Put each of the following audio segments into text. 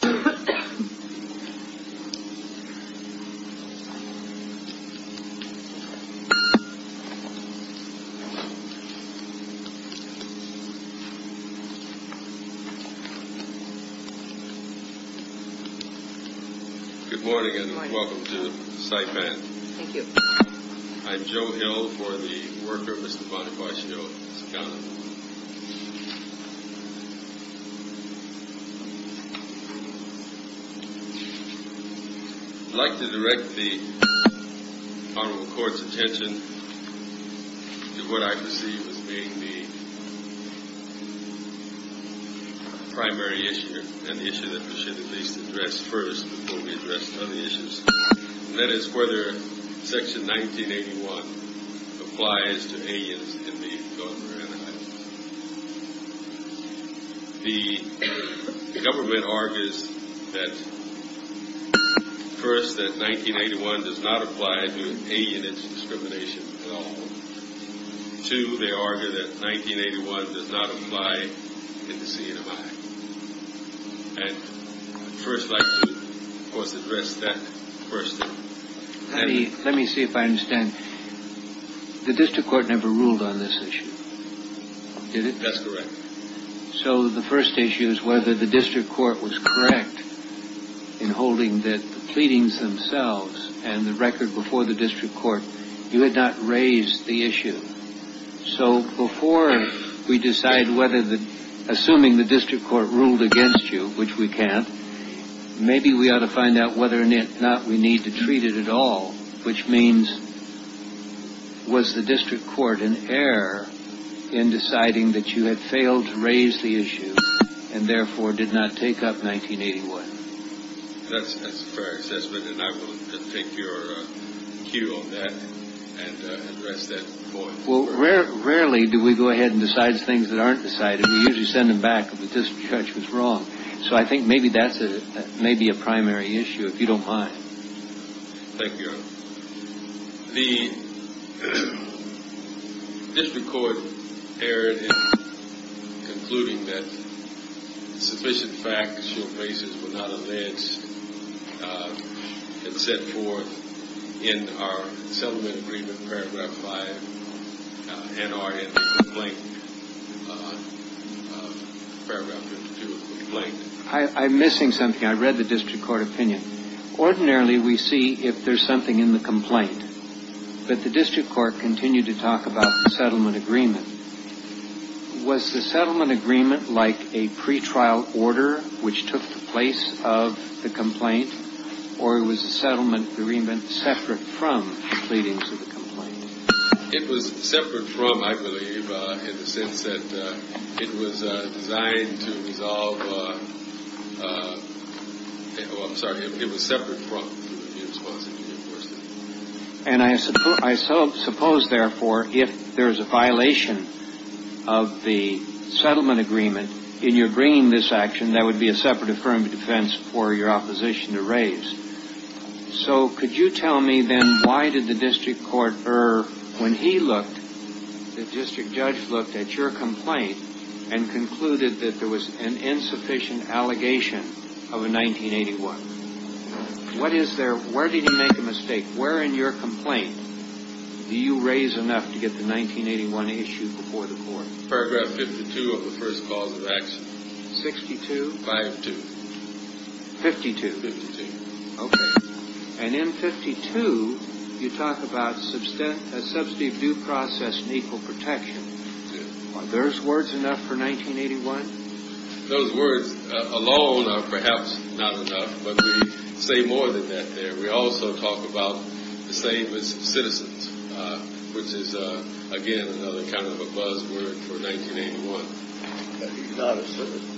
Good morning and welcome to Saipan. I'm Joe Hill for the worker Mr. Bonifacio Sacana. I'd like to direct the Honorable Court's attention to what I perceive as being the primary issue, an issue that we should at least address first before we address other issues, and that is whether Section 1981 applies to aliens in the Gulf of Iran. The government argues that, first, that 1981 does not apply to alien discrimination at all. Two, they argue that 1981 does not apply in the Sea of Nevada. And I'd first like to, of course, address that first. Let me see if I understand. The district court never ruled on this issue, did it? That's correct. So the first issue is whether the district court was correct in holding that the pleadings themselves and the record before the district court, you had not raised the issue. So before we decide whether the, assuming the district court ruled against you, which we can't, maybe we ought to find out whether or not we need to treat it at all, which means was the district court in error in deciding that you had failed to raise the issue and therefore did not take up 1981? That's a fair assessment, and I will take your cue on that and address that point. Well, rarely do we go ahead and decide things that aren't decided. We usually send them back that this judge was wrong. So I think maybe that's maybe a primary issue, if you don't mind. Thank you, Your Honor. The district court erred in concluding that sufficient factual basis were not alleged and set forth in our settlement agreement paragraph 5 NRN complaint, paragraph 52 of the complaint. I'm missing something. I read the district court opinion. Ordinarily, we see if there's something in the complaint, but the district court continued to talk about the settlement agreement. Was the settlement agreement like a pretrial order which took the place of the complaint or was the settlement agreement separate from the pleadings of the complaint? It was separate from, I believe, in the sense that it was designed to resolve. I'm sorry, it was separate from. And I suppose, therefore, if there is a violation of the settlement agreement in your bringing this action, there would be a separate affirmative defense for your opposition to raise. So could you tell me, then, why did the district court err when he looked, the district judge looked at your complaint and concluded that there was an insufficient allegation of a 1981? What is there? Where did he make a mistake? Where in your complaint do you raise enough to get the 1981 issued before the court? Paragraph 52 of the first clause of action. Sixty-two? Five-two. Fifty-two? Fifty-two. Okay. And in 52, you talk about a subsidy of due process and equal protection. Are those words enough for 1981? Those words alone are perhaps not enough. But we say more than that there. We also talk about the same as citizens, which is, again, another kind of a buzzword for 1981. He's not a citizen.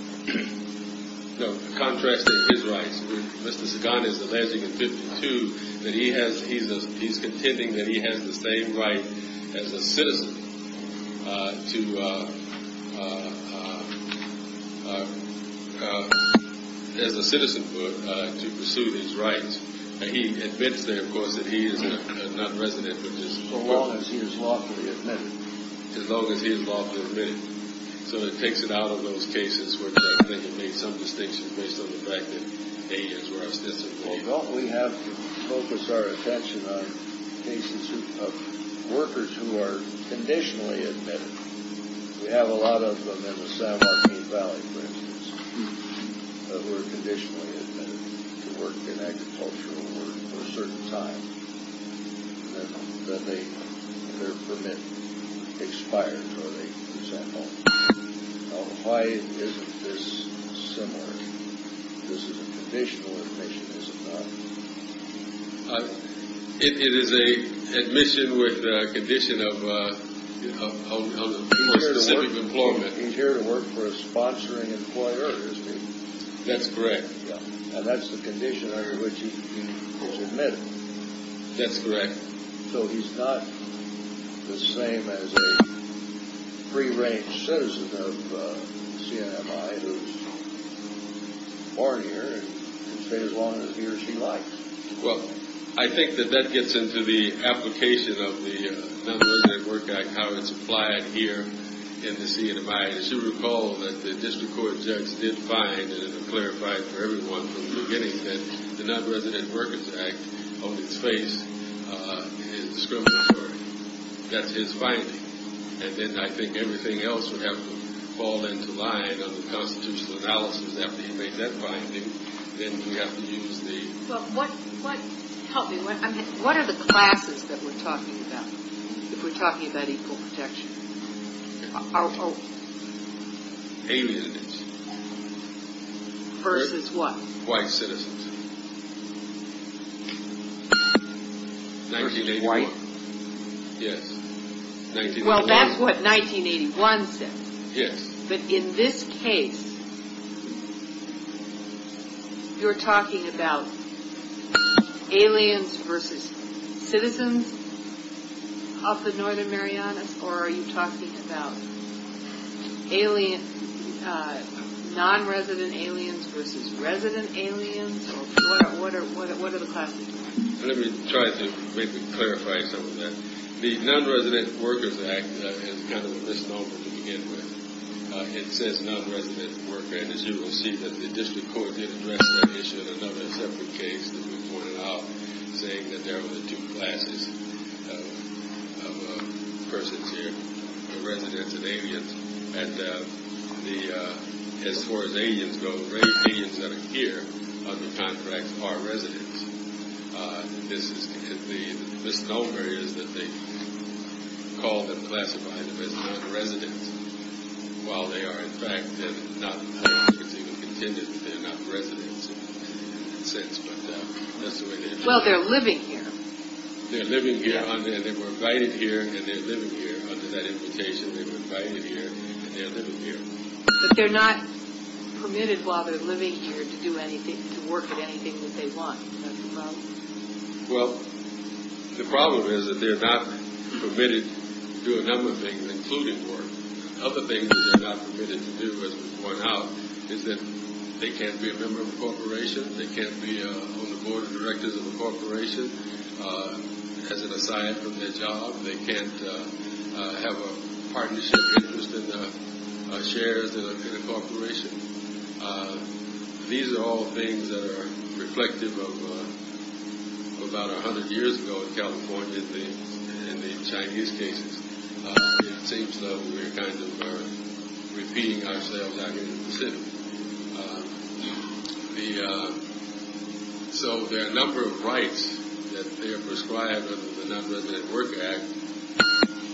As a citizen to pursue his rights, he admits there, of course, that he is a nonresident but just a worker. As long as he is lawfully admitted. As long as he is lawfully admitted. So it takes it out of those cases where I think it made some distinction based on the fact that A is where I was disappointed. Well, don't we have to focus our attention on cases of workers who are conditionally admitted? We have a lot of them in the San Joaquin Valley, for instance, who are conditionally admitted to work in agricultural work for a certain time. Then their permit expires or they are sent home. Why isn't this similar? This is a conditional admission, is it not? It is a admission with a condition of specific employment. He's here to work for a sponsoring employer, is he? That's correct. And that's the condition under which he is admitted. That's correct. So he's not the same as a free-range citizen of CNMI who is born here and can stay as long as he or she likes? Well, I think that that gets into the application of the Nonresident Work Act, how it's applied here in the CNMI. As you recall, the district court judge did find and clarified for everyone from the beginning that the Nonresident Workers Act, on its face, is discriminatory. That's his finding. And then I think everything else would have to fall into line of the constitutional analysis. After he made that finding, then we have to use the… Help me. What are the classes that we're talking about if we're talking about equal protection? Our own. Alienage. Versus what? White citizens. Versus white. Yes. Well, that's what 1981 says. Yes. But in this case, you're talking about aliens versus citizens of the Northern Marianas, or are you talking about nonresident aliens versus resident aliens? What are the classes? Let me try to maybe clarify some of that. The Nonresident Workers Act is kind of a misnomer to begin with. It says nonresident worker, and as you will see, the district court did address that issue in another separate case that we pointed out saying that there were two classes of persons here, residents and aliens. And as far as aliens go, the aliens that are here under contract are residents. And the misnomer is that they call them classified as nonresidents, while they are in fact not a particular contingent. They're not residents in a sense, but that's the way they are. Well, they're living here. They're living here, and they were invited here, and they're living here. Under that invitation, they were invited here, and they're living here. But they're not permitted while they're living here to do anything, to work at anything that they want. That's the problem. Well, the problem is that they're not permitted to do a number of things, including work. Other things that they're not permitted to do, as was pointed out, is that they can't be a member of a corporation. They can't be on the board of directors of a corporation as an aside from their job. They can't have a partnership interest in shares in a corporation. These are all things that are reflective of about 100 years ago in California and the Chinese cases. It seems though we're kind of repeating ourselves back in the Pacific. So there are a number of rights that they are prescribed under the Non-Resident Work Act,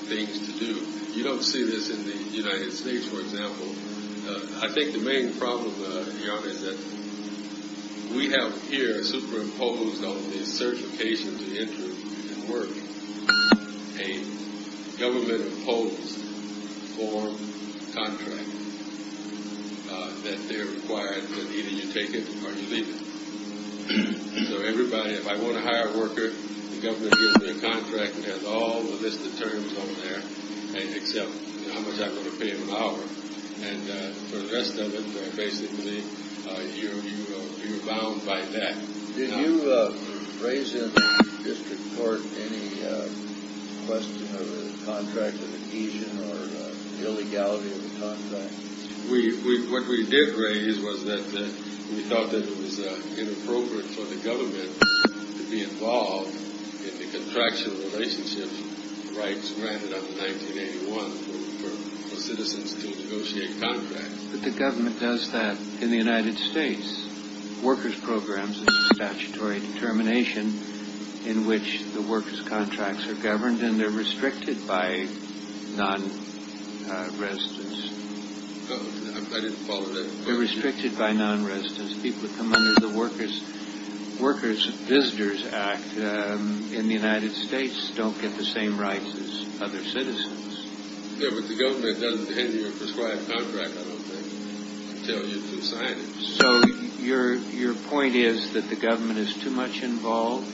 things to do. You don't see this in the United States, for example. I think the main problem here is that we have here superimposed on the certification to enter and work a government-imposed form contract that they're required that either you take it or you leave it. So everybody, if I want to hire a worker, the government gives me a contract that has all the listed terms on there, except how much I'm going to pay him an hour. And for the rest of it, basically, you're bound by that. Did you raise in the district court any question of a contract of adhesion or illegality of the contract? What we did raise was that we thought that it was inappropriate for the government to be involved in the contractual relationship rights granted under 1981 for citizens to negotiate contracts. But the government does that in the United States. Workers' programs is a statutory determination in which the workers' contracts are governed, and they're restricted by non-residents. I didn't follow that. They're restricted by non-residents. People who come under the Workers' Visitors Act in the United States don't get the same rights as other citizens. Yeah, but the government doesn't hand you a prescribed contract. I don't think they tell you to sign it. So your point is that the government is too much involved?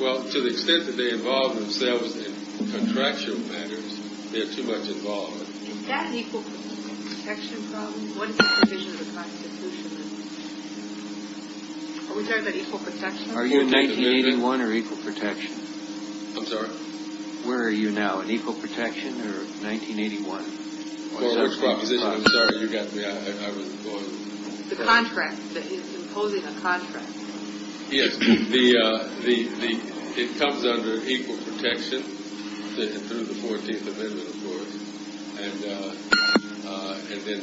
Well, to the extent that they involve themselves in contractual matters, they're too much involved. Is that an equal protection problem? What is the provision of the Constitution? Are we talking about equal protection? Are you in 1981 or equal protection? I'm sorry? Where are you now, in equal protection or 1981? I'm sorry, you got me. I wasn't following. The contract that is imposing a contract. Yes, it comes under equal protection through the 14th Amendment, of course, and then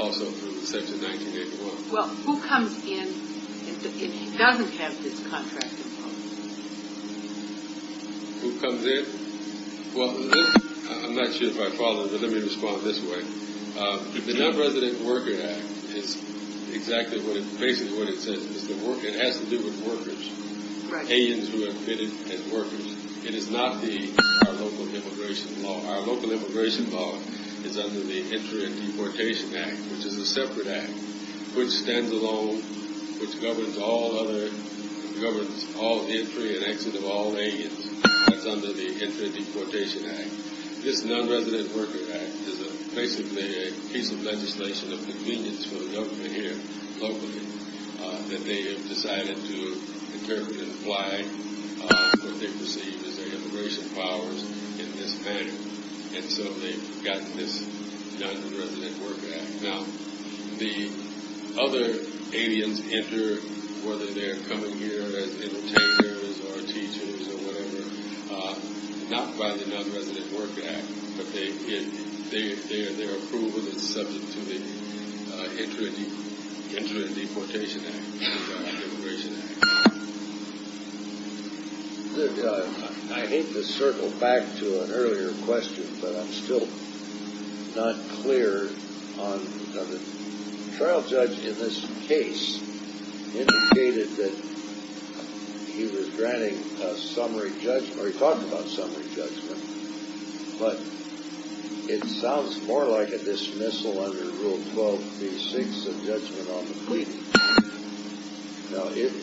also through Section 1981. Well, who comes in if he doesn't have his contract imposed? Who comes in? Well, I'm not sure if I followed, but let me respond this way. The Non-Resident Workers Act is exactly what it says. It has to do with workers, aliens who have been admitted as workers. It is not the local immigration law. Our local immigration law is under the Entry and Deportation Act, which is a separate act, which stands alone, which governs all entry and exit of all aliens. That's under the Entry and Deportation Act. This Non-Resident Workers Act is basically a piece of legislation of convenience for the government here locally that they have decided to interpret and apply what they perceive as their immigration powers in this manner, and so they've gotten this Non-Resident Workers Act. Now, the other aliens enter, whether they're coming here as entertainers or teachers or whatever, not by the Non-Resident Workers Act, but their approval is subject to the Entry and Deportation Act, which is our immigration act. I hate to circle back to an earlier question, but I'm still not clear on the trial judge in this case indicated that he was granting summary judgment, or he talked about summary judgment, but it sounds more like a dismissal under Rule 12b-6 of judgment on the plea. Now, if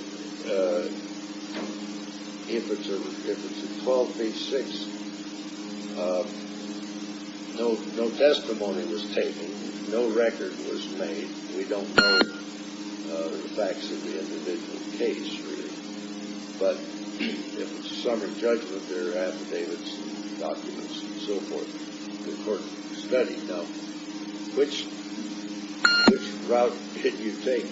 it's in 12b-6, no testimony was taken, no record was made. We don't know the facts of the individual case, really, but if it's a summary judgment, there are affidavits and documents and so forth for the court to study. Now, which route did you take?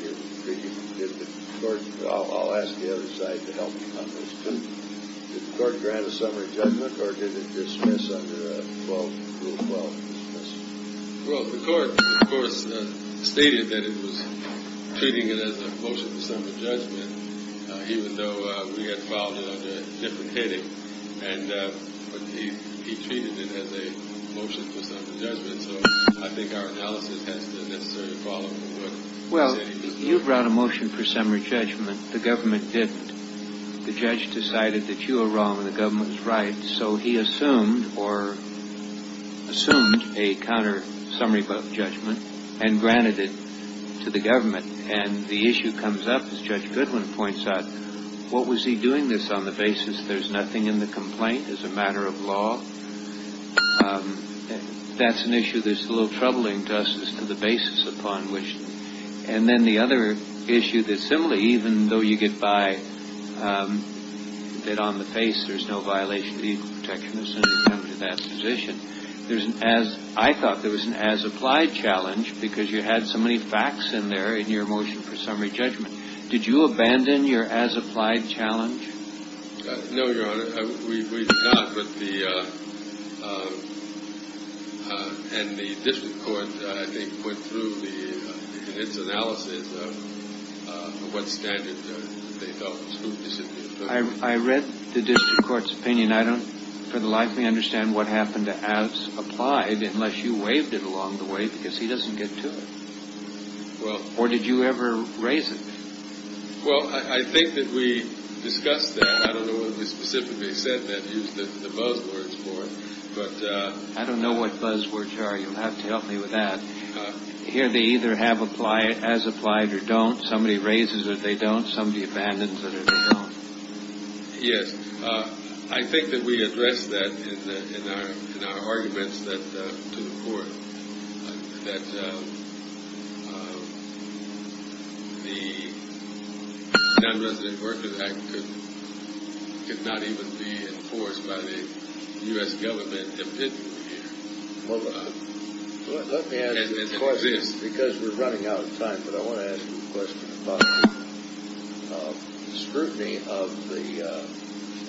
I'll ask the other side to help you on this, too. Did the court grant a summary judgment, or did it dismiss under Rule 12b-6? Well, the court, of course, stated that it was treating it as a motion for summary judgment, even though we had filed it under a different heading, but he treated it as a motion for summary judgment, so I think our analysis has to necessarily follow what he said he was doing. Well, you brought a motion for summary judgment. The government didn't. The judge decided that you were wrong and the government was right, so he assumed or assumed a counter-summary judgment and granted it to the government, and the issue comes up, as Judge Goodwin points out, what was he doing this on the basis there's nothing in the complaint as a matter of law? That's an issue that's a little troubling to us as to the basis upon which. And then the other issue that similarly, even though you get by it on the face, there's no violation of legal protection as soon as you come to that position. I thought there was an as-applied challenge because you had so many facts in there in your motion for summary judgment. Did you abandon your as-applied challenge? No, Your Honor, we did not. And the district court, I think, went through its analysis of what standard they felt was appropriate. I read the district court's opinion. I don't for the life of me understand what happened to as-applied unless you waived it along the way because he doesn't get to it. Or did you ever raise it? Well, I think that we discussed that. I don't know what you specifically said that used the buzzwords for it. I don't know what buzzwords are. You'll have to help me with that. Here they either have as-applied or don't. Somebody raises it or they don't. Somebody abandons it or they don't. Yes. I think that we addressed that in our arguments to the court, that the Nonresident Workers Act could not even be enforced by the U.S. government opinion here. Let me ask you a question because we're running out of time. But I want to ask you a question about the scrutiny of the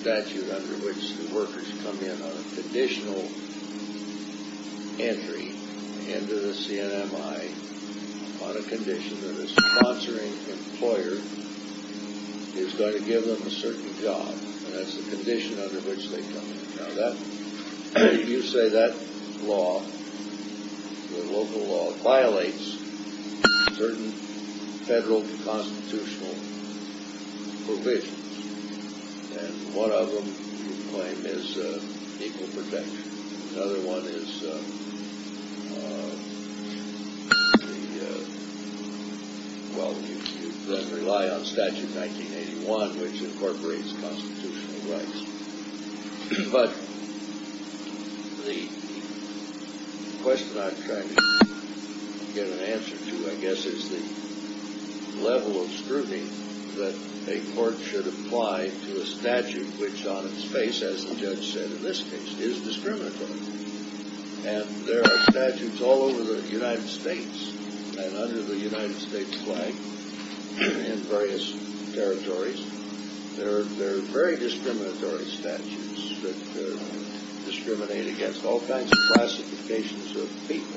statute under which the workers come in on a conditional entry into the CNMI on a condition that a sponsoring employer is going to give them a certain job. That's the condition under which they come in. You say that law, the local law, violates certain federal constitutional provisions. And one of them, you claim, is equal protection. Another one is, well, you rely on Statute 1981, which incorporates constitutional rights. But the question I'm trying to get an answer to, I guess, is the level of scrutiny that a court should apply to a statute which on its face, as the judge said in this case, is discriminatory. And there are statutes all over the United States. And under the United States flag in various territories, there are very discriminatory statutes that discriminate against all kinds of classifications of people.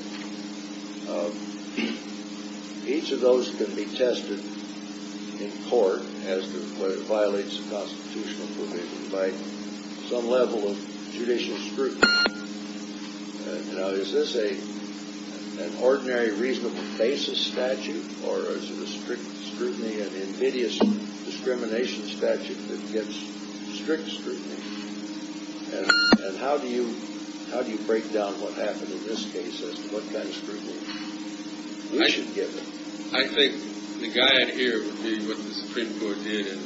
Each of those can be tested in court as to whether it violates a constitutional provision by some level of judicial scrutiny. Now, is this an ordinary, reasonable basis statute, or is it a strict scrutiny, an invidious discrimination statute that gets strict scrutiny? And how do you break down what happened in this case as to what kind of scrutiny we should give it? I think the guide here would be what the Supreme Court did in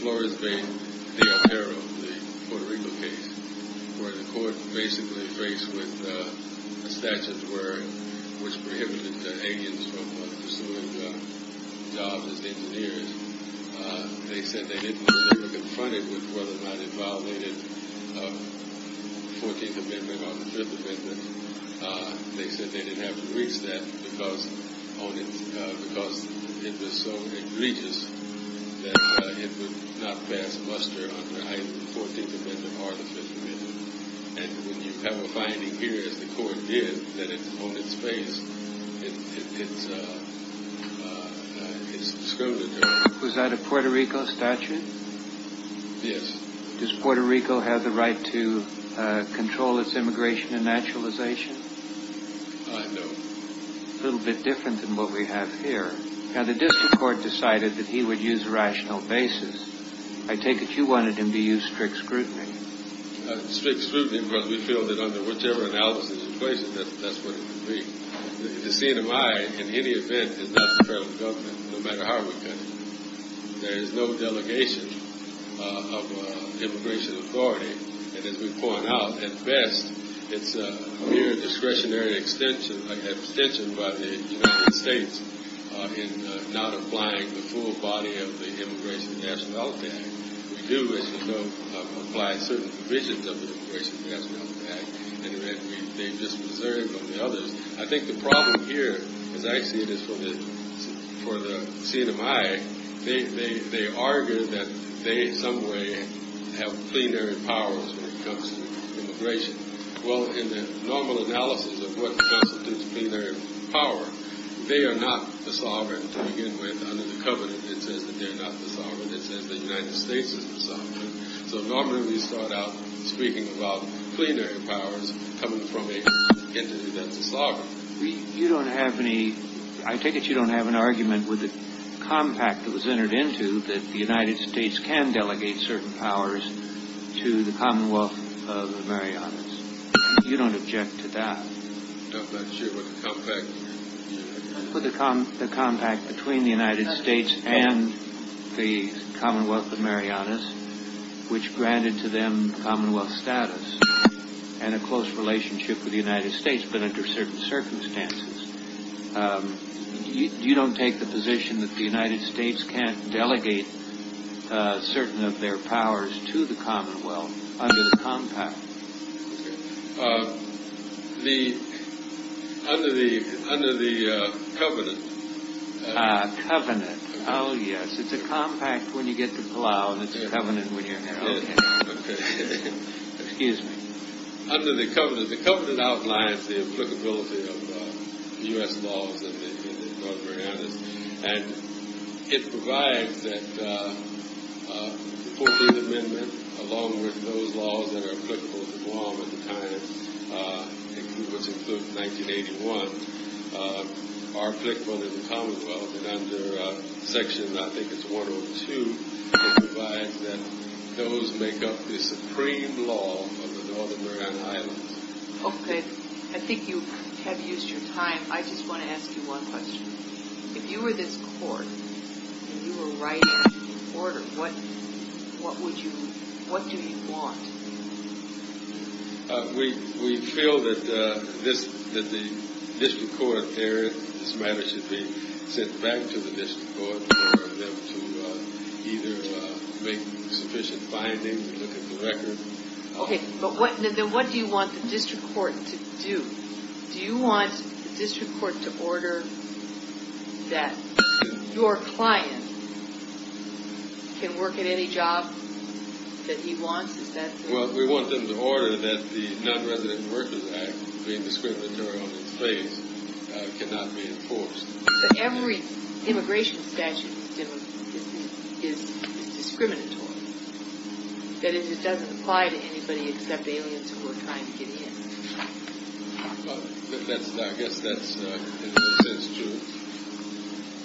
Flores v. Del Perro, the Puerto Rico case, where the court basically faced with a statute which prohibited Asians from pursuing jobs as engineers. They said they didn't want to ever confront it with whether or not it violated the 14th Amendment or the 5th Amendment. They said they didn't have to reach that because it was so egregious that it would not pass muster under either the 14th Amendment or the 5th Amendment. And when you have a finding here, as the court did, that it's on its face, it's discriminatory. Was that a Puerto Rico statute? Yes. Does Puerto Rico have the right to control its immigration and naturalization? No. A little bit different than what we have here. Now, the district court decided that he would use a rational basis. I take it you wanted him to use strict scrutiny. Strict scrutiny because we feel that under whichever analysis and equation, that's what it would be. The scene of mine, in any event, is not the federal government, no matter how we cut it. There is no delegation of immigration authority. And as we point out, at best, it's mere discretionary abstention by the United States in not applying the full body of the Immigration and Nationality Act. We do, as you know, apply certain provisions of the Immigration and Nationality Act. In any event, they've just preserved on the others. I think the problem here, as I see it, is for the scene of mine, they argue that they in some way have plenary powers when it comes to immigration. Well, in the normal analysis of what constitutes plenary power, they are not the sovereign to begin with under the covenant that says that they're not the sovereign. So normally we start out speaking about plenary powers coming from a entity that's a sovereign. You don't have any – I take it you don't have an argument with the compact that was entered into that the United States can delegate certain powers to the Commonwealth of Marianas. You don't object to that. I'm not sure what the compact is. The compact between the United States and the Commonwealth of Marianas, which granted to them Commonwealth status and a close relationship with the United States, but under certain circumstances. You don't take the position that the United States can't delegate certain of their powers to the Commonwealth under the compact. The – under the covenant. Covenant. Oh, yes. It's a compact when you get to Palau, and it's a covenant when you're here. Okay. Excuse me. Under the covenant, the covenant outlines the applicability of U.S. laws in the Northern Marianas, and it provides that the 14th Amendment, along with those laws that are applicable to Guam at the time, which includes 1981, are applicable to the Commonwealth. And under section, I think it's 102, it provides that those make up the supreme law of the Northern Marianas Islands. Okay. I think you have used your time. I just want to ask you one question. If you were this court and you were writing an order, what would you – what do you want? We feel that this – that the district court there, this matter should be sent back to the district court for them to either make sufficient findings or look at the record. Okay. But what – then what do you want the district court to do? Do you want the district court to order that your client can work at any job that he wants? Is that – Well, we want them to order that the Non-Resident Workers Act, being discriminatory on its face, cannot be enforced. Every immigration statute is discriminatory. That is, it doesn't apply to anybody except aliens who are trying to get in. Well, that's – I guess that's, in a sense, true.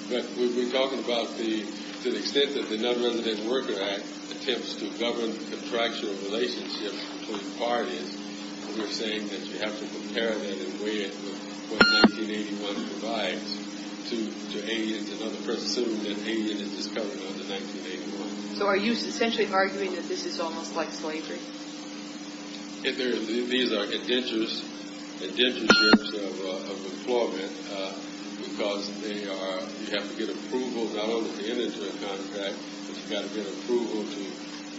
But we've been talking about the – to the extent that the Non-Resident Workers Act attempts to govern contractual relationships between parties, we're saying that you have to compare that and weigh it with what 1981 provides to aliens and other persons. Assuming that an alien is discovered under 1981. So are you essentially arguing that this is almost like slavery? These are indentures of employment because they are – you have to get approval, not only to get into a contract, but you've got to get approval to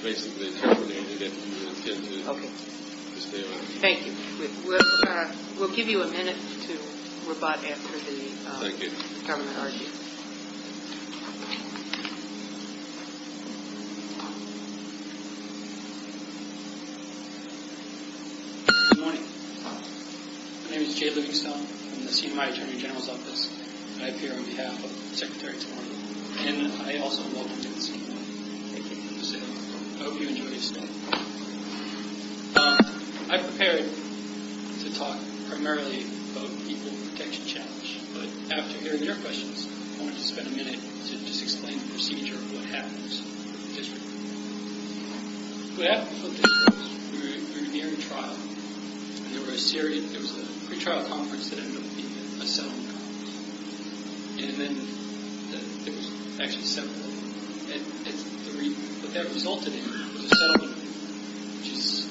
basically terminate it if you intend to stay on. Okay. Thank you. We'll give you a minute to rebut after the – Thank you. Governor, how are you? Good morning. My name is Jay Livingstone. I'm the Senior High Attorney General's Office. I appear on behalf of Secretary Tormey, and I also welcome you to the Senior High. Thank you for visiting. I hope you enjoy your stay. I prepared to talk primarily about the Equal Protection Challenge, but after hearing your questions, I wanted to spend a minute to just explain the procedure of what happens with the district. What happened with the district was we were nearing trial, and there were a series – there was a pretrial conference that ended up being a settlement conference. And then there was actually a settlement. And the reason – what that resulted in was a settlement which was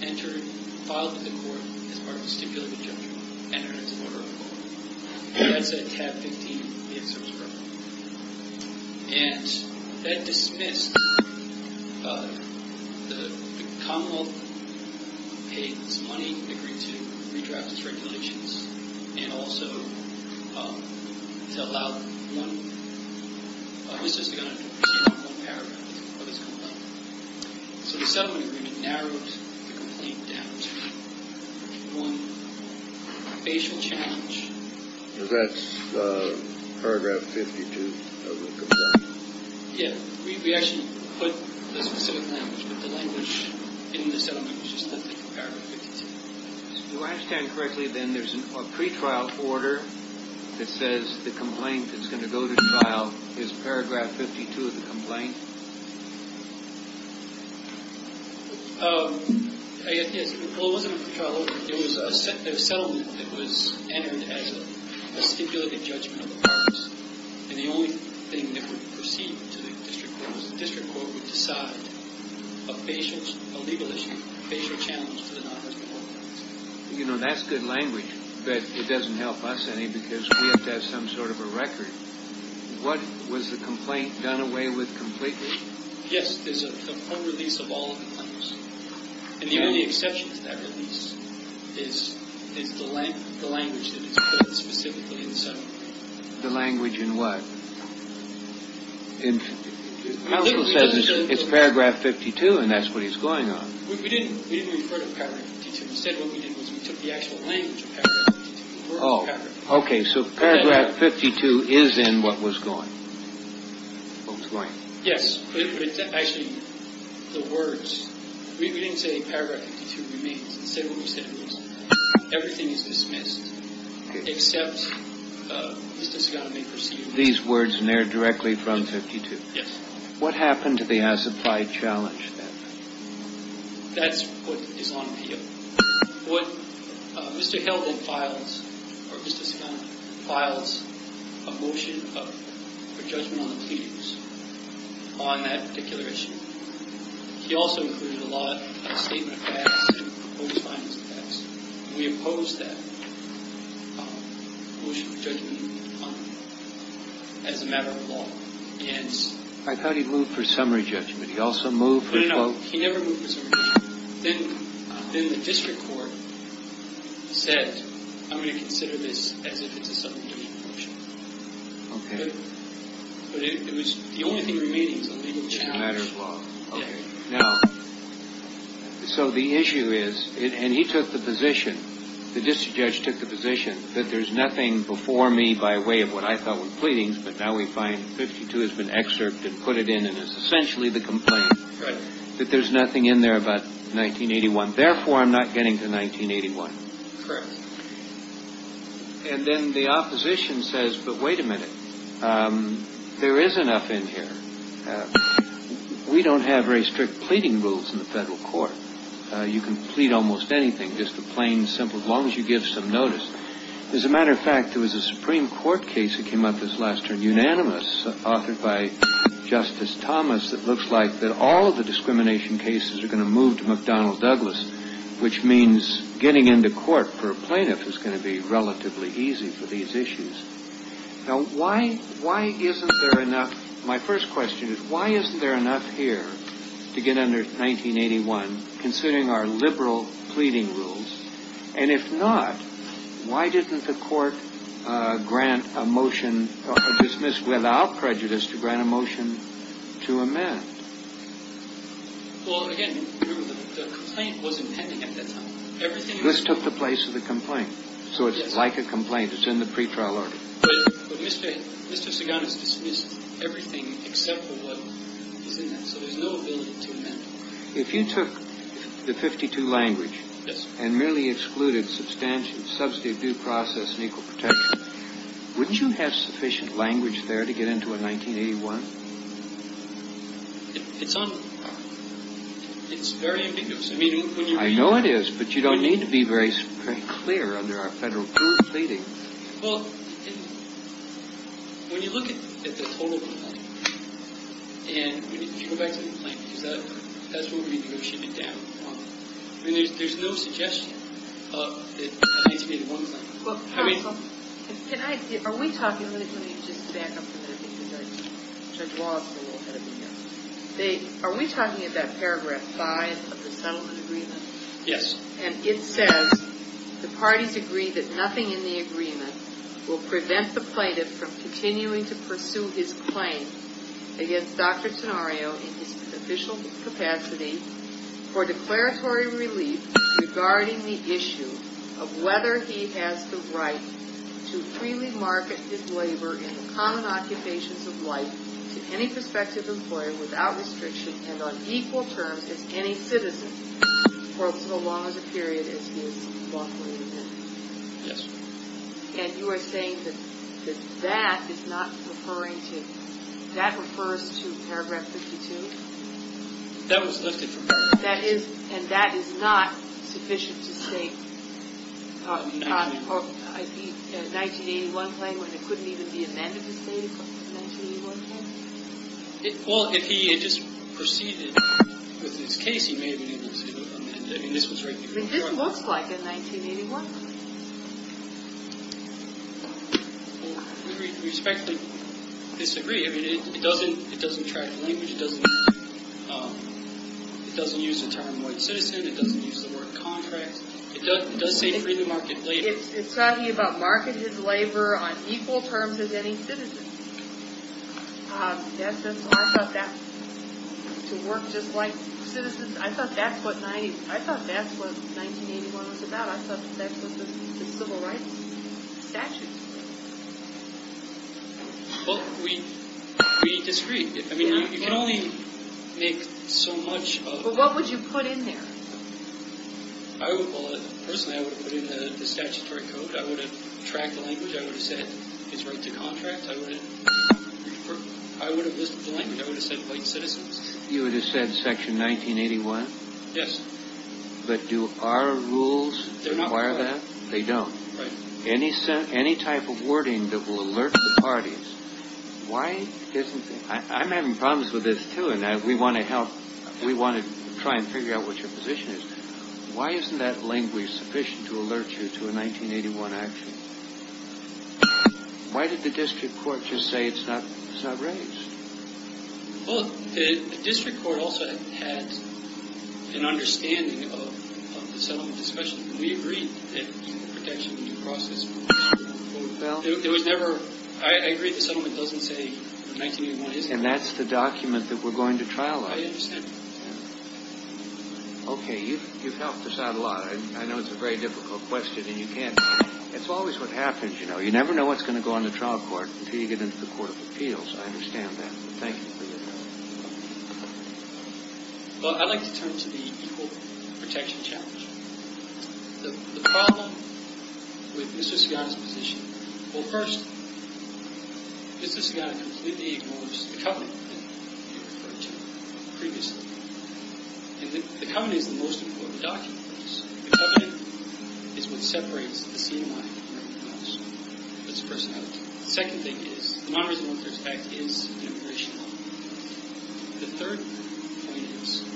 entered, filed to the court as part of the stipulated injunction, entered into order of the court. And that's at tab 15, the ex-service record. And that dismissed the Commonwealth, paid some money, agreed to redraft its regulations, and also to allow one – this is going to represent one paragraph of this complaint. So the settlement agreement narrowed the complaint down to one facial challenge. That's Paragraph 52 of the complaint. Yeah. We actually put the specific language, but the language in the settlement was just definitely Paragraph 52. Do I understand correctly, then, there's a pretrial order that says the complaint that's going to go to trial is Paragraph 52 of the complaint? It wasn't a pretrial order. It was a settlement that was entered as a stipulated judgment of the purpose. And the only thing that would proceed to the district court was the district court would decide a legal issue, a facial challenge to the non-residual offense. You know, that's good language, but it doesn't help us any because we have to have some sort of a record. What was the complaint done away with completely? Yes, there's a release of all the complaints. And the only exception to that release is the language that is put specifically in the settlement. The language in what? Counsel says it's Paragraph 52, and that's what he's going on. We didn't refer to Paragraph 52. Instead, what we did was we took the actual language of Paragraph 52. Oh, OK. So Paragraph 52 is in what was going. Yes, but it's actually the words. We didn't say Paragraph 52 remains. Instead, what we said was everything is dismissed except this does not make proceedings. These words in there directly from 52. Yes. What happened to the as applied challenge? That's what is on appeal. What Mr. Heldman files or Mr. Scott files a motion of judgment on that particular issue. He also included a lot of statement. We oppose that. As a matter of law, yes, I thought he moved for summary judgment. He also moved. He never moved. Then the district court said, I'm going to consider this as if it's a subject. But it was the only thing remaining is a legal challenge. Now, so the issue is and he took the position. The district judge took the position that there's nothing before me by way of what I thought were pleadings. But now we find 52 has been excerpted, put it in. And it's essentially the complaint that there's nothing in there about 1981. Therefore, I'm not getting to 1981. And then the opposition says, but wait a minute. There is enough in here. We don't have very strict pleading rules in the federal court. You can plead almost anything. Just the plain simple. As long as you give some notice. As a matter of fact, there was a Supreme Court case that came up this last term. Unanimous authored by Justice Thomas. It looks like that all of the discrimination cases are going to move to McDonnell Douglas, which means getting into court for a plaintiff is going to be relatively easy for these issues. Now, why? Why isn't there enough? My first question is, why isn't there enough here to get under 1981 considering our liberal pleading rules? And if not, why didn't the court grant a motion dismissed without prejudice to grant a motion to amend? Well, again, the complaint was impending at that time. This took the place of the complaint. So it's like a complaint. It's in the pretrial order. But Mr. Sagan has dismissed everything except for what is in there. So there's no ability to amend. If you took the 52 language and merely excluded substantive due process and equal protection, wouldn't you have sufficient language there to get into a 1981? It's very ambiguous. I know it is, but you don't need to be very clear under our federal pleading. Well, when you look at the total complaint and you go back to the complaint, because that's where we negotiate it down. I mean, there's no suggestion that it needs to be in one thing. Well, counsel, are we talking—let me just back up a minute because Judge Wallace is a little ahead of me here. Are we talking about paragraph 5 of the settlement agreement? Yes. And it says, The parties agree that nothing in the agreement will prevent the plaintiff from continuing to pursue his claim against Dr. Tenorio in his official capacity for declaratory relief regarding the issue of whether he has the right to freely market his labor in the common occupations of life to any prospective employer without restriction and on equal terms as any citizen for so long as a period as he is lawfully exempt. Yes. And you are saying that that is not referring to—that refers to paragraph 52? That was lifted from paragraph 52. And that is not sufficient to state a 1981 claim when it couldn't even be amended to state a 1981 claim? Well, if he had just proceeded with his case, he may have been able to amend it. I mean, this was right before— I mean, this looks like a 1981. Well, we respectfully disagree. I mean, it doesn't track the language. It doesn't use the term white citizen. It doesn't use the word contract. It does say freely market labor. It's talking about market his labor on equal terms as any citizen. That's just—I thought that—to work just like citizens, I thought that's what 1981 was about. I thought that's what the civil rights statute said. Well, we disagree. I mean, you can only make so much of— But what would you put in there? I would—well, personally, I would have put in the statutory code. I would have tracked the language. I would have said it's right to contract. I would have listed the language. I would have said white citizens. You would have said Section 1981? Yes. But do our rules require that? They're not required. They don't. Right. Any type of wording that will alert the parties, why isn't—I'm having problems with this, too, and we want to help—we want to try and figure out what your position is. Why isn't that language sufficient to alert you to a 1981 action? Why did the district court just say it's not raised? Well, the district court also had an understanding of the settlement discussion. We agreed that the protection would be processed. Well— It was never—I agree the settlement doesn't say 1981 isn't. And that's the document that we're going to trial on. I understand. Okay. You've helped us out a lot. I know it's a very difficult question and you can't— It's always what happens, you know. You never know what's going to go on the trial court until you get into the court of appeals. I understand that. Thank you for your time. Well, I'd like to turn to the equal protection challenge. The problem with Mr. Sigata's position—well, first, Mr. Sigata completely ignores the covenant that you referred to previously. And the covenant is the most important document. The covenant is what separates the CNMI from the federal government. That's the personality. The second thing is the Non-Resident Workers Act is an immigration law. The third point is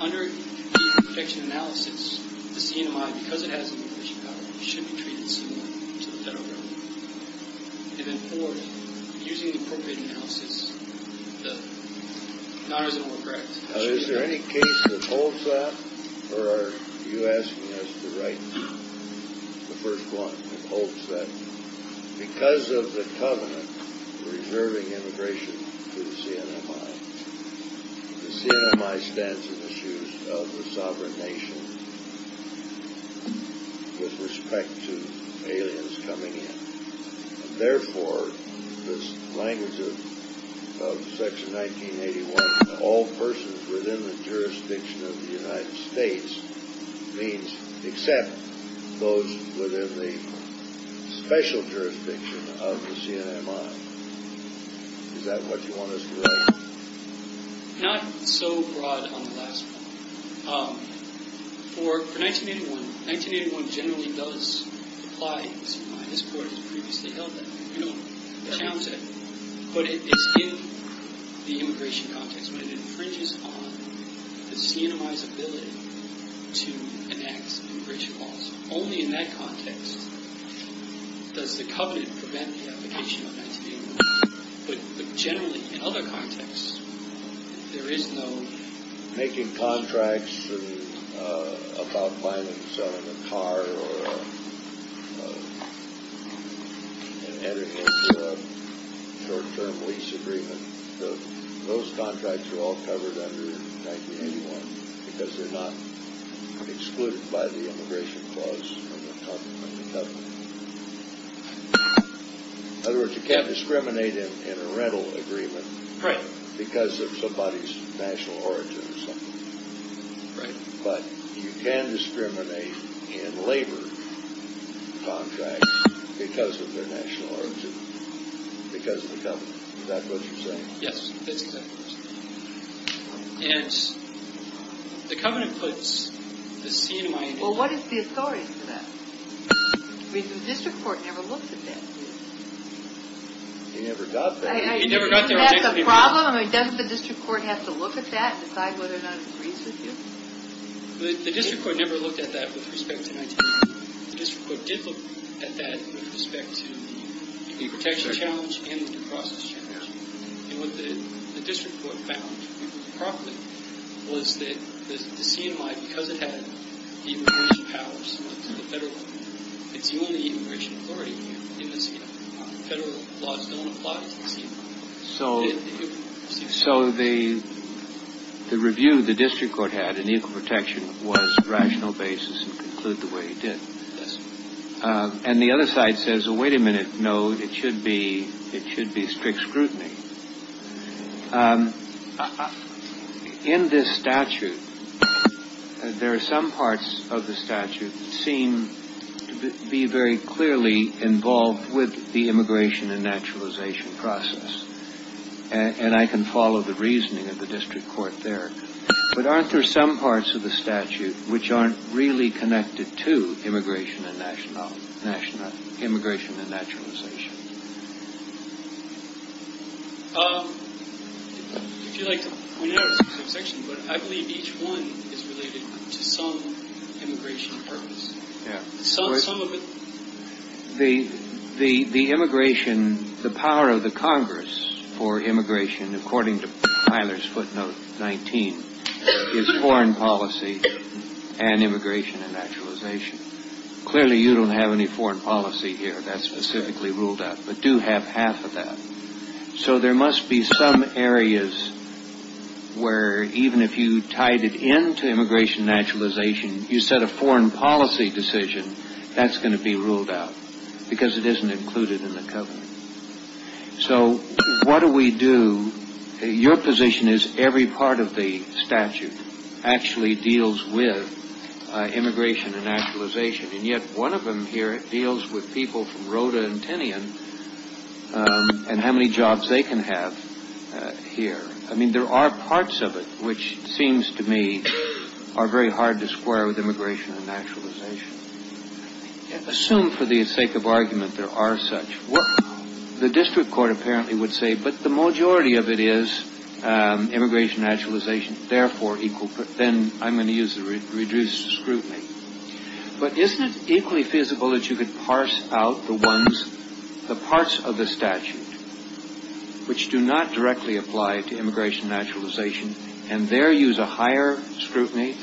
under equal protection analysis, the CNMI, because it has immigration power, should be treated similar to the federal government. And then fourth, using the appropriate analysis, the Non-Resident Workers Act— Now, is there any case that holds that, or are you asking us to write the first one that holds that? Because of the covenant reserving immigration to the CNMI, the CNMI stands in the shoes of the sovereign nation with respect to aliens coming in. Therefore, this language of Section 1981, all persons within the jurisdiction of the United States, means except those within the special jurisdiction of the CNMI. Is that what you want us to write? Not so broad on the last one. For 1981, 1981 generally does apply to CNMI. This Court has previously held that. We don't challenge that. But it's in the immigration context when it infringes on the CNMI's ability to enact immigration laws. Only in that context does the covenant prevent the application of 1981. But generally, in other contexts, there is no— Making contracts about buying and selling a car or entering into a short-term lease agreement, those contracts are all covered under 1981, because they're not excluded by the immigration clause from the covenant. In other words, you can't discriminate in a rental agreement because of somebody's national origin or something. But you can discriminate in labor contracts because of their national origin, because of the covenant. Is that what you're saying? Yes, that's exactly what I'm saying. And the covenant puts the CNMI— Well, what is the authority for that? The district court never looked at that. He never got there. He never got there. Isn't that the problem? Doesn't the district court have to look at that and decide whether or not it agrees with you? The district court never looked at that with respect to 1981. The district court did look at that with respect to the immigration challenge and the due process challenge. And what the district court found, if I remember properly, was that the CNMI, because it had the immigration powers, went to the federal law. It's the only immigration authority in the CNMI. Federal laws don't apply to the CNMI. So the review the district court had in Equal Protection was rational basis and conclude the way it did. Yes, sir. And the other side says, wait a minute, no, it should be strict scrutiny. In this statute, there are some parts of the statute that seem to be very clearly involved with the immigration and naturalization process. And I can follow the reasoning of the district court there. But aren't there some parts of the statute which aren't really connected to immigration and naturalization? If you'd like to point out a subsection, but I believe each one is related to some immigration purpose. Some of it. The immigration, the power of the Congress for immigration, according to Tyler's footnote 19, is foreign policy and immigration and naturalization. Clearly, you don't have any foreign policy here that's specifically ruled out, but do have half of that. So there must be some areas where even if you tied it into immigration and naturalization, you set a foreign policy decision, that's going to be ruled out because it isn't included in the covenant. So what do we do? Your position is every part of the statute actually deals with immigration and naturalization. And yet one of them here deals with people from Rhoda and Tinian and how many jobs they can have here. I mean, there are parts of it which seems to me are very hard to square with immigration and naturalization. Assume for the sake of argument there are such. The district court apparently would say, but the majority of it is immigration and naturalization. Therefore, then I'm going to use the reduced scrutiny. But isn't it equally feasible that you could parse out the parts of the statute which do not directly apply to immigration and naturalization and there use a higher scrutiny?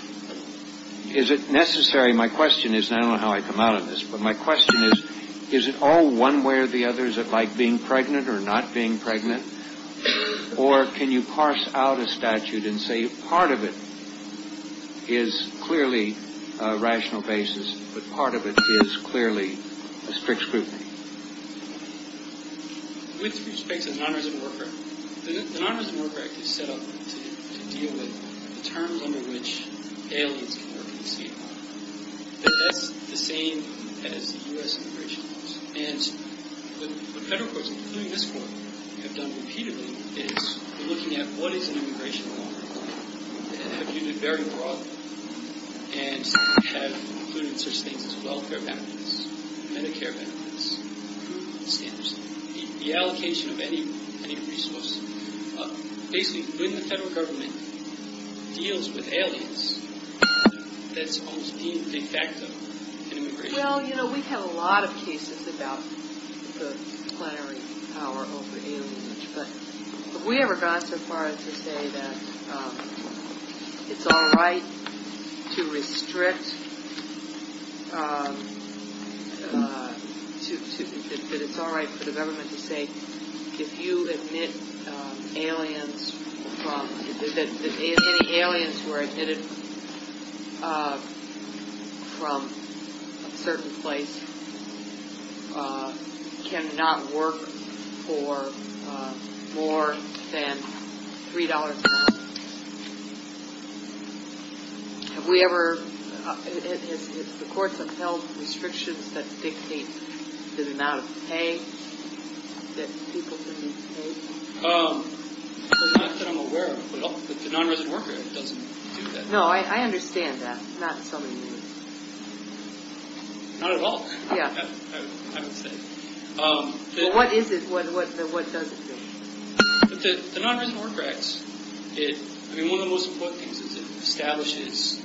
Is it necessary? My question is, and I don't know how I come out of this, but my question is, is it all one way or the other? Is it like being pregnant or not being pregnant? Or can you parse out a statute and say part of it is clearly a rational basis, but part of it is clearly a strict scrutiny? With respect to the Non-Resident Work Act, the Non-Resident Work Act is set up to deal with the terms under which aliens can work in Seattle. That's the same as the U.S. immigration laws. And the federal courts, including this court, have done repeatedly, is looking at what is an immigration law and have used it very broadly and have included such things as welfare benefits, Medicare benefits, approval standards, the allocation of any resource. Basically, when the federal government deals with aliens, that's almost deemed de facto an immigration law. Well, you know, we've had a lot of cases about the plenary power over aliens, but have we ever gone so far as to say that it's all right to restrict, that it's all right for the government to say, if you admit aliens from, that any aliens who are admitted from a certain place cannot work for more than $3 a month? Have we ever, have the courts ever held restrictions that dictate the amount of pay that people can be paid? Not that I'm aware of, but the Non-Resident Work Act doesn't do that. No, I understand that. Not in so many ways. Not at all, I would say. Well, what is it, what does it do? The Non-Resident Work Act, I mean, one of the most important things is it establishes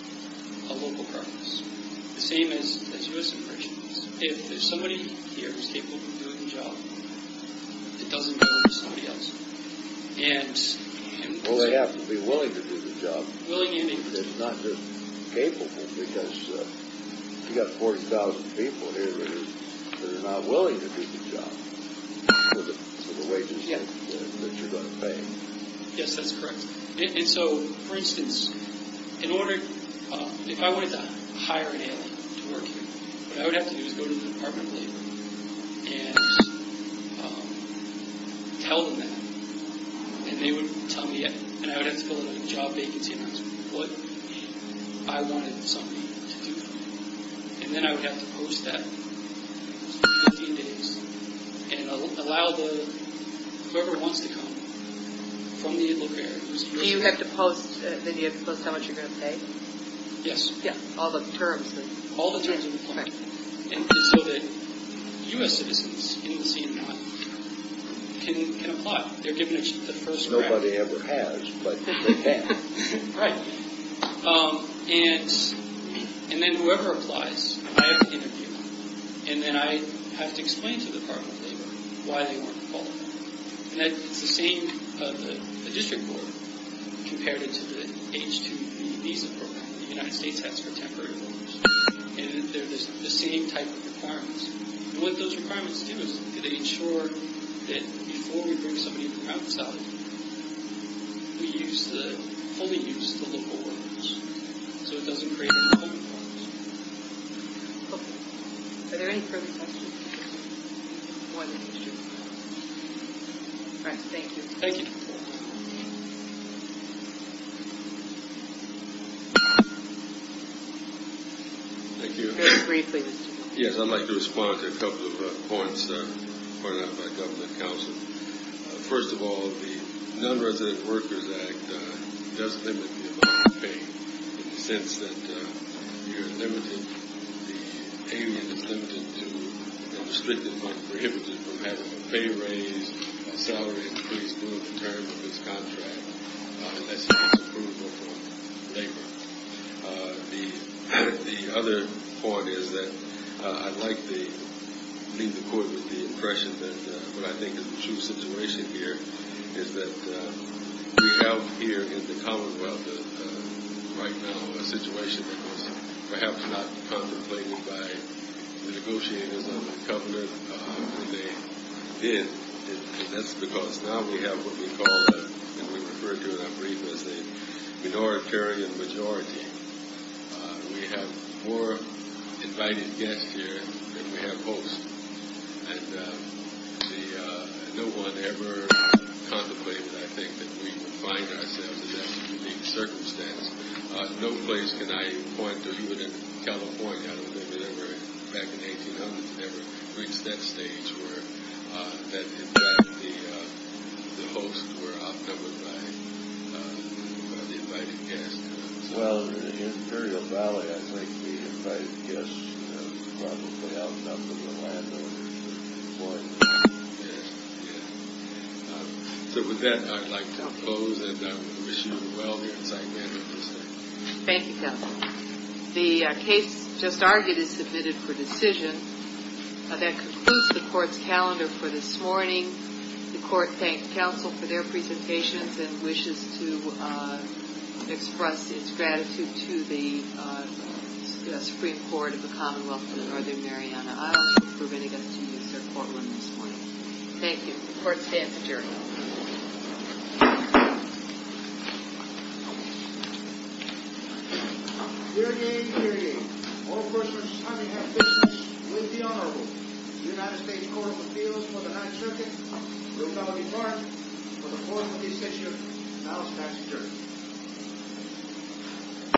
a local preference, the same as U.S. immigration laws. If somebody here is capable of doing the job, it doesn't go to somebody else. Well, they have to be willing to do the job. Willing and able. It's not just capable, because you've got 40,000 people here that are not willing to do the job for the wages that you're going to pay. Yes, that's correct. And so, for instance, in order, if I wanted to hire an alien to work here, what I would have to do is go to the Department of Labor and tell them that. And they would tell me, and I would have to fill out a job vacancy, and that's what I wanted somebody to do for me. And then I would have to post that in 15 days, and allow whoever wants to come from the local area to receive it. Do you have to post how much you're going to pay? Yes. All the terms? All the terms of employment, so that U.S. citizens in the CNI can apply. They're given the first grant. Nobody ever has, but they can. Right. And then whoever applies, I have to interview them, and then I have to explain to the Department of Labor why they weren't qualified. And it's the same, the district board compared it to the H-2B visa program that the United States has for temporary workers. And they're the same type of requirements. And what those requirements do is they ensure that before we bring somebody into the compound facility, we use the, fully use the local workers, so it doesn't create a problem for us. Okay. Are there any further questions? One in particular. All right, thank you. Thank you. Thank you. Very briefly. Yes, I'd like to respond to a couple of points pointed out by Governor Cousins. First of all, the Non-Resident Workers Act does limit the amount of pay, in the sense that you're limited, the alien is limited to, you know, strictly might be prohibited from having a pay raise, salary increase due in terms of his contract, unless he has approval from labor. The other point is that I'd like to leave the court with the impression that what I think is the true situation here is that we have here in the Commonwealth right now a situation that was perhaps not contemplated by the negotiators of the government when they did, and that's because now we have what we call, and we refer to it, I'm brief, as a minoritarian majority. We have more invited guests here than we have hosts, and no one ever contemplated, I think, that we would find ourselves in that unique circumstance. No place can I point to, even in California, I don't think we ever, back in the 1800s, ever reached that stage where, that in fact the hosts were outnumbered by the invited guests. Well, in the Imperial Valley, I think the invited guests probably outnumbered the landowners. So with that, I'd like to close, and I wish you well here in Sacramento. Thank you, counsel. The case just argued is submitted for decision. That concludes the court's calendar for this morning. The court thanks counsel for their presentations and wishes to express its gratitude to the Supreme Court of the Commonwealth and the Northern Mariana Islands for bringing us to this court room this morning. Thank you. The court stands adjourned. Hear, ye, hear, ye. All persons having had business with the Honorable United States Court of Appeals for the Ninth Circuit, Ruth Ellaby Clark, for the fourth of these sessions, now stands adjourned.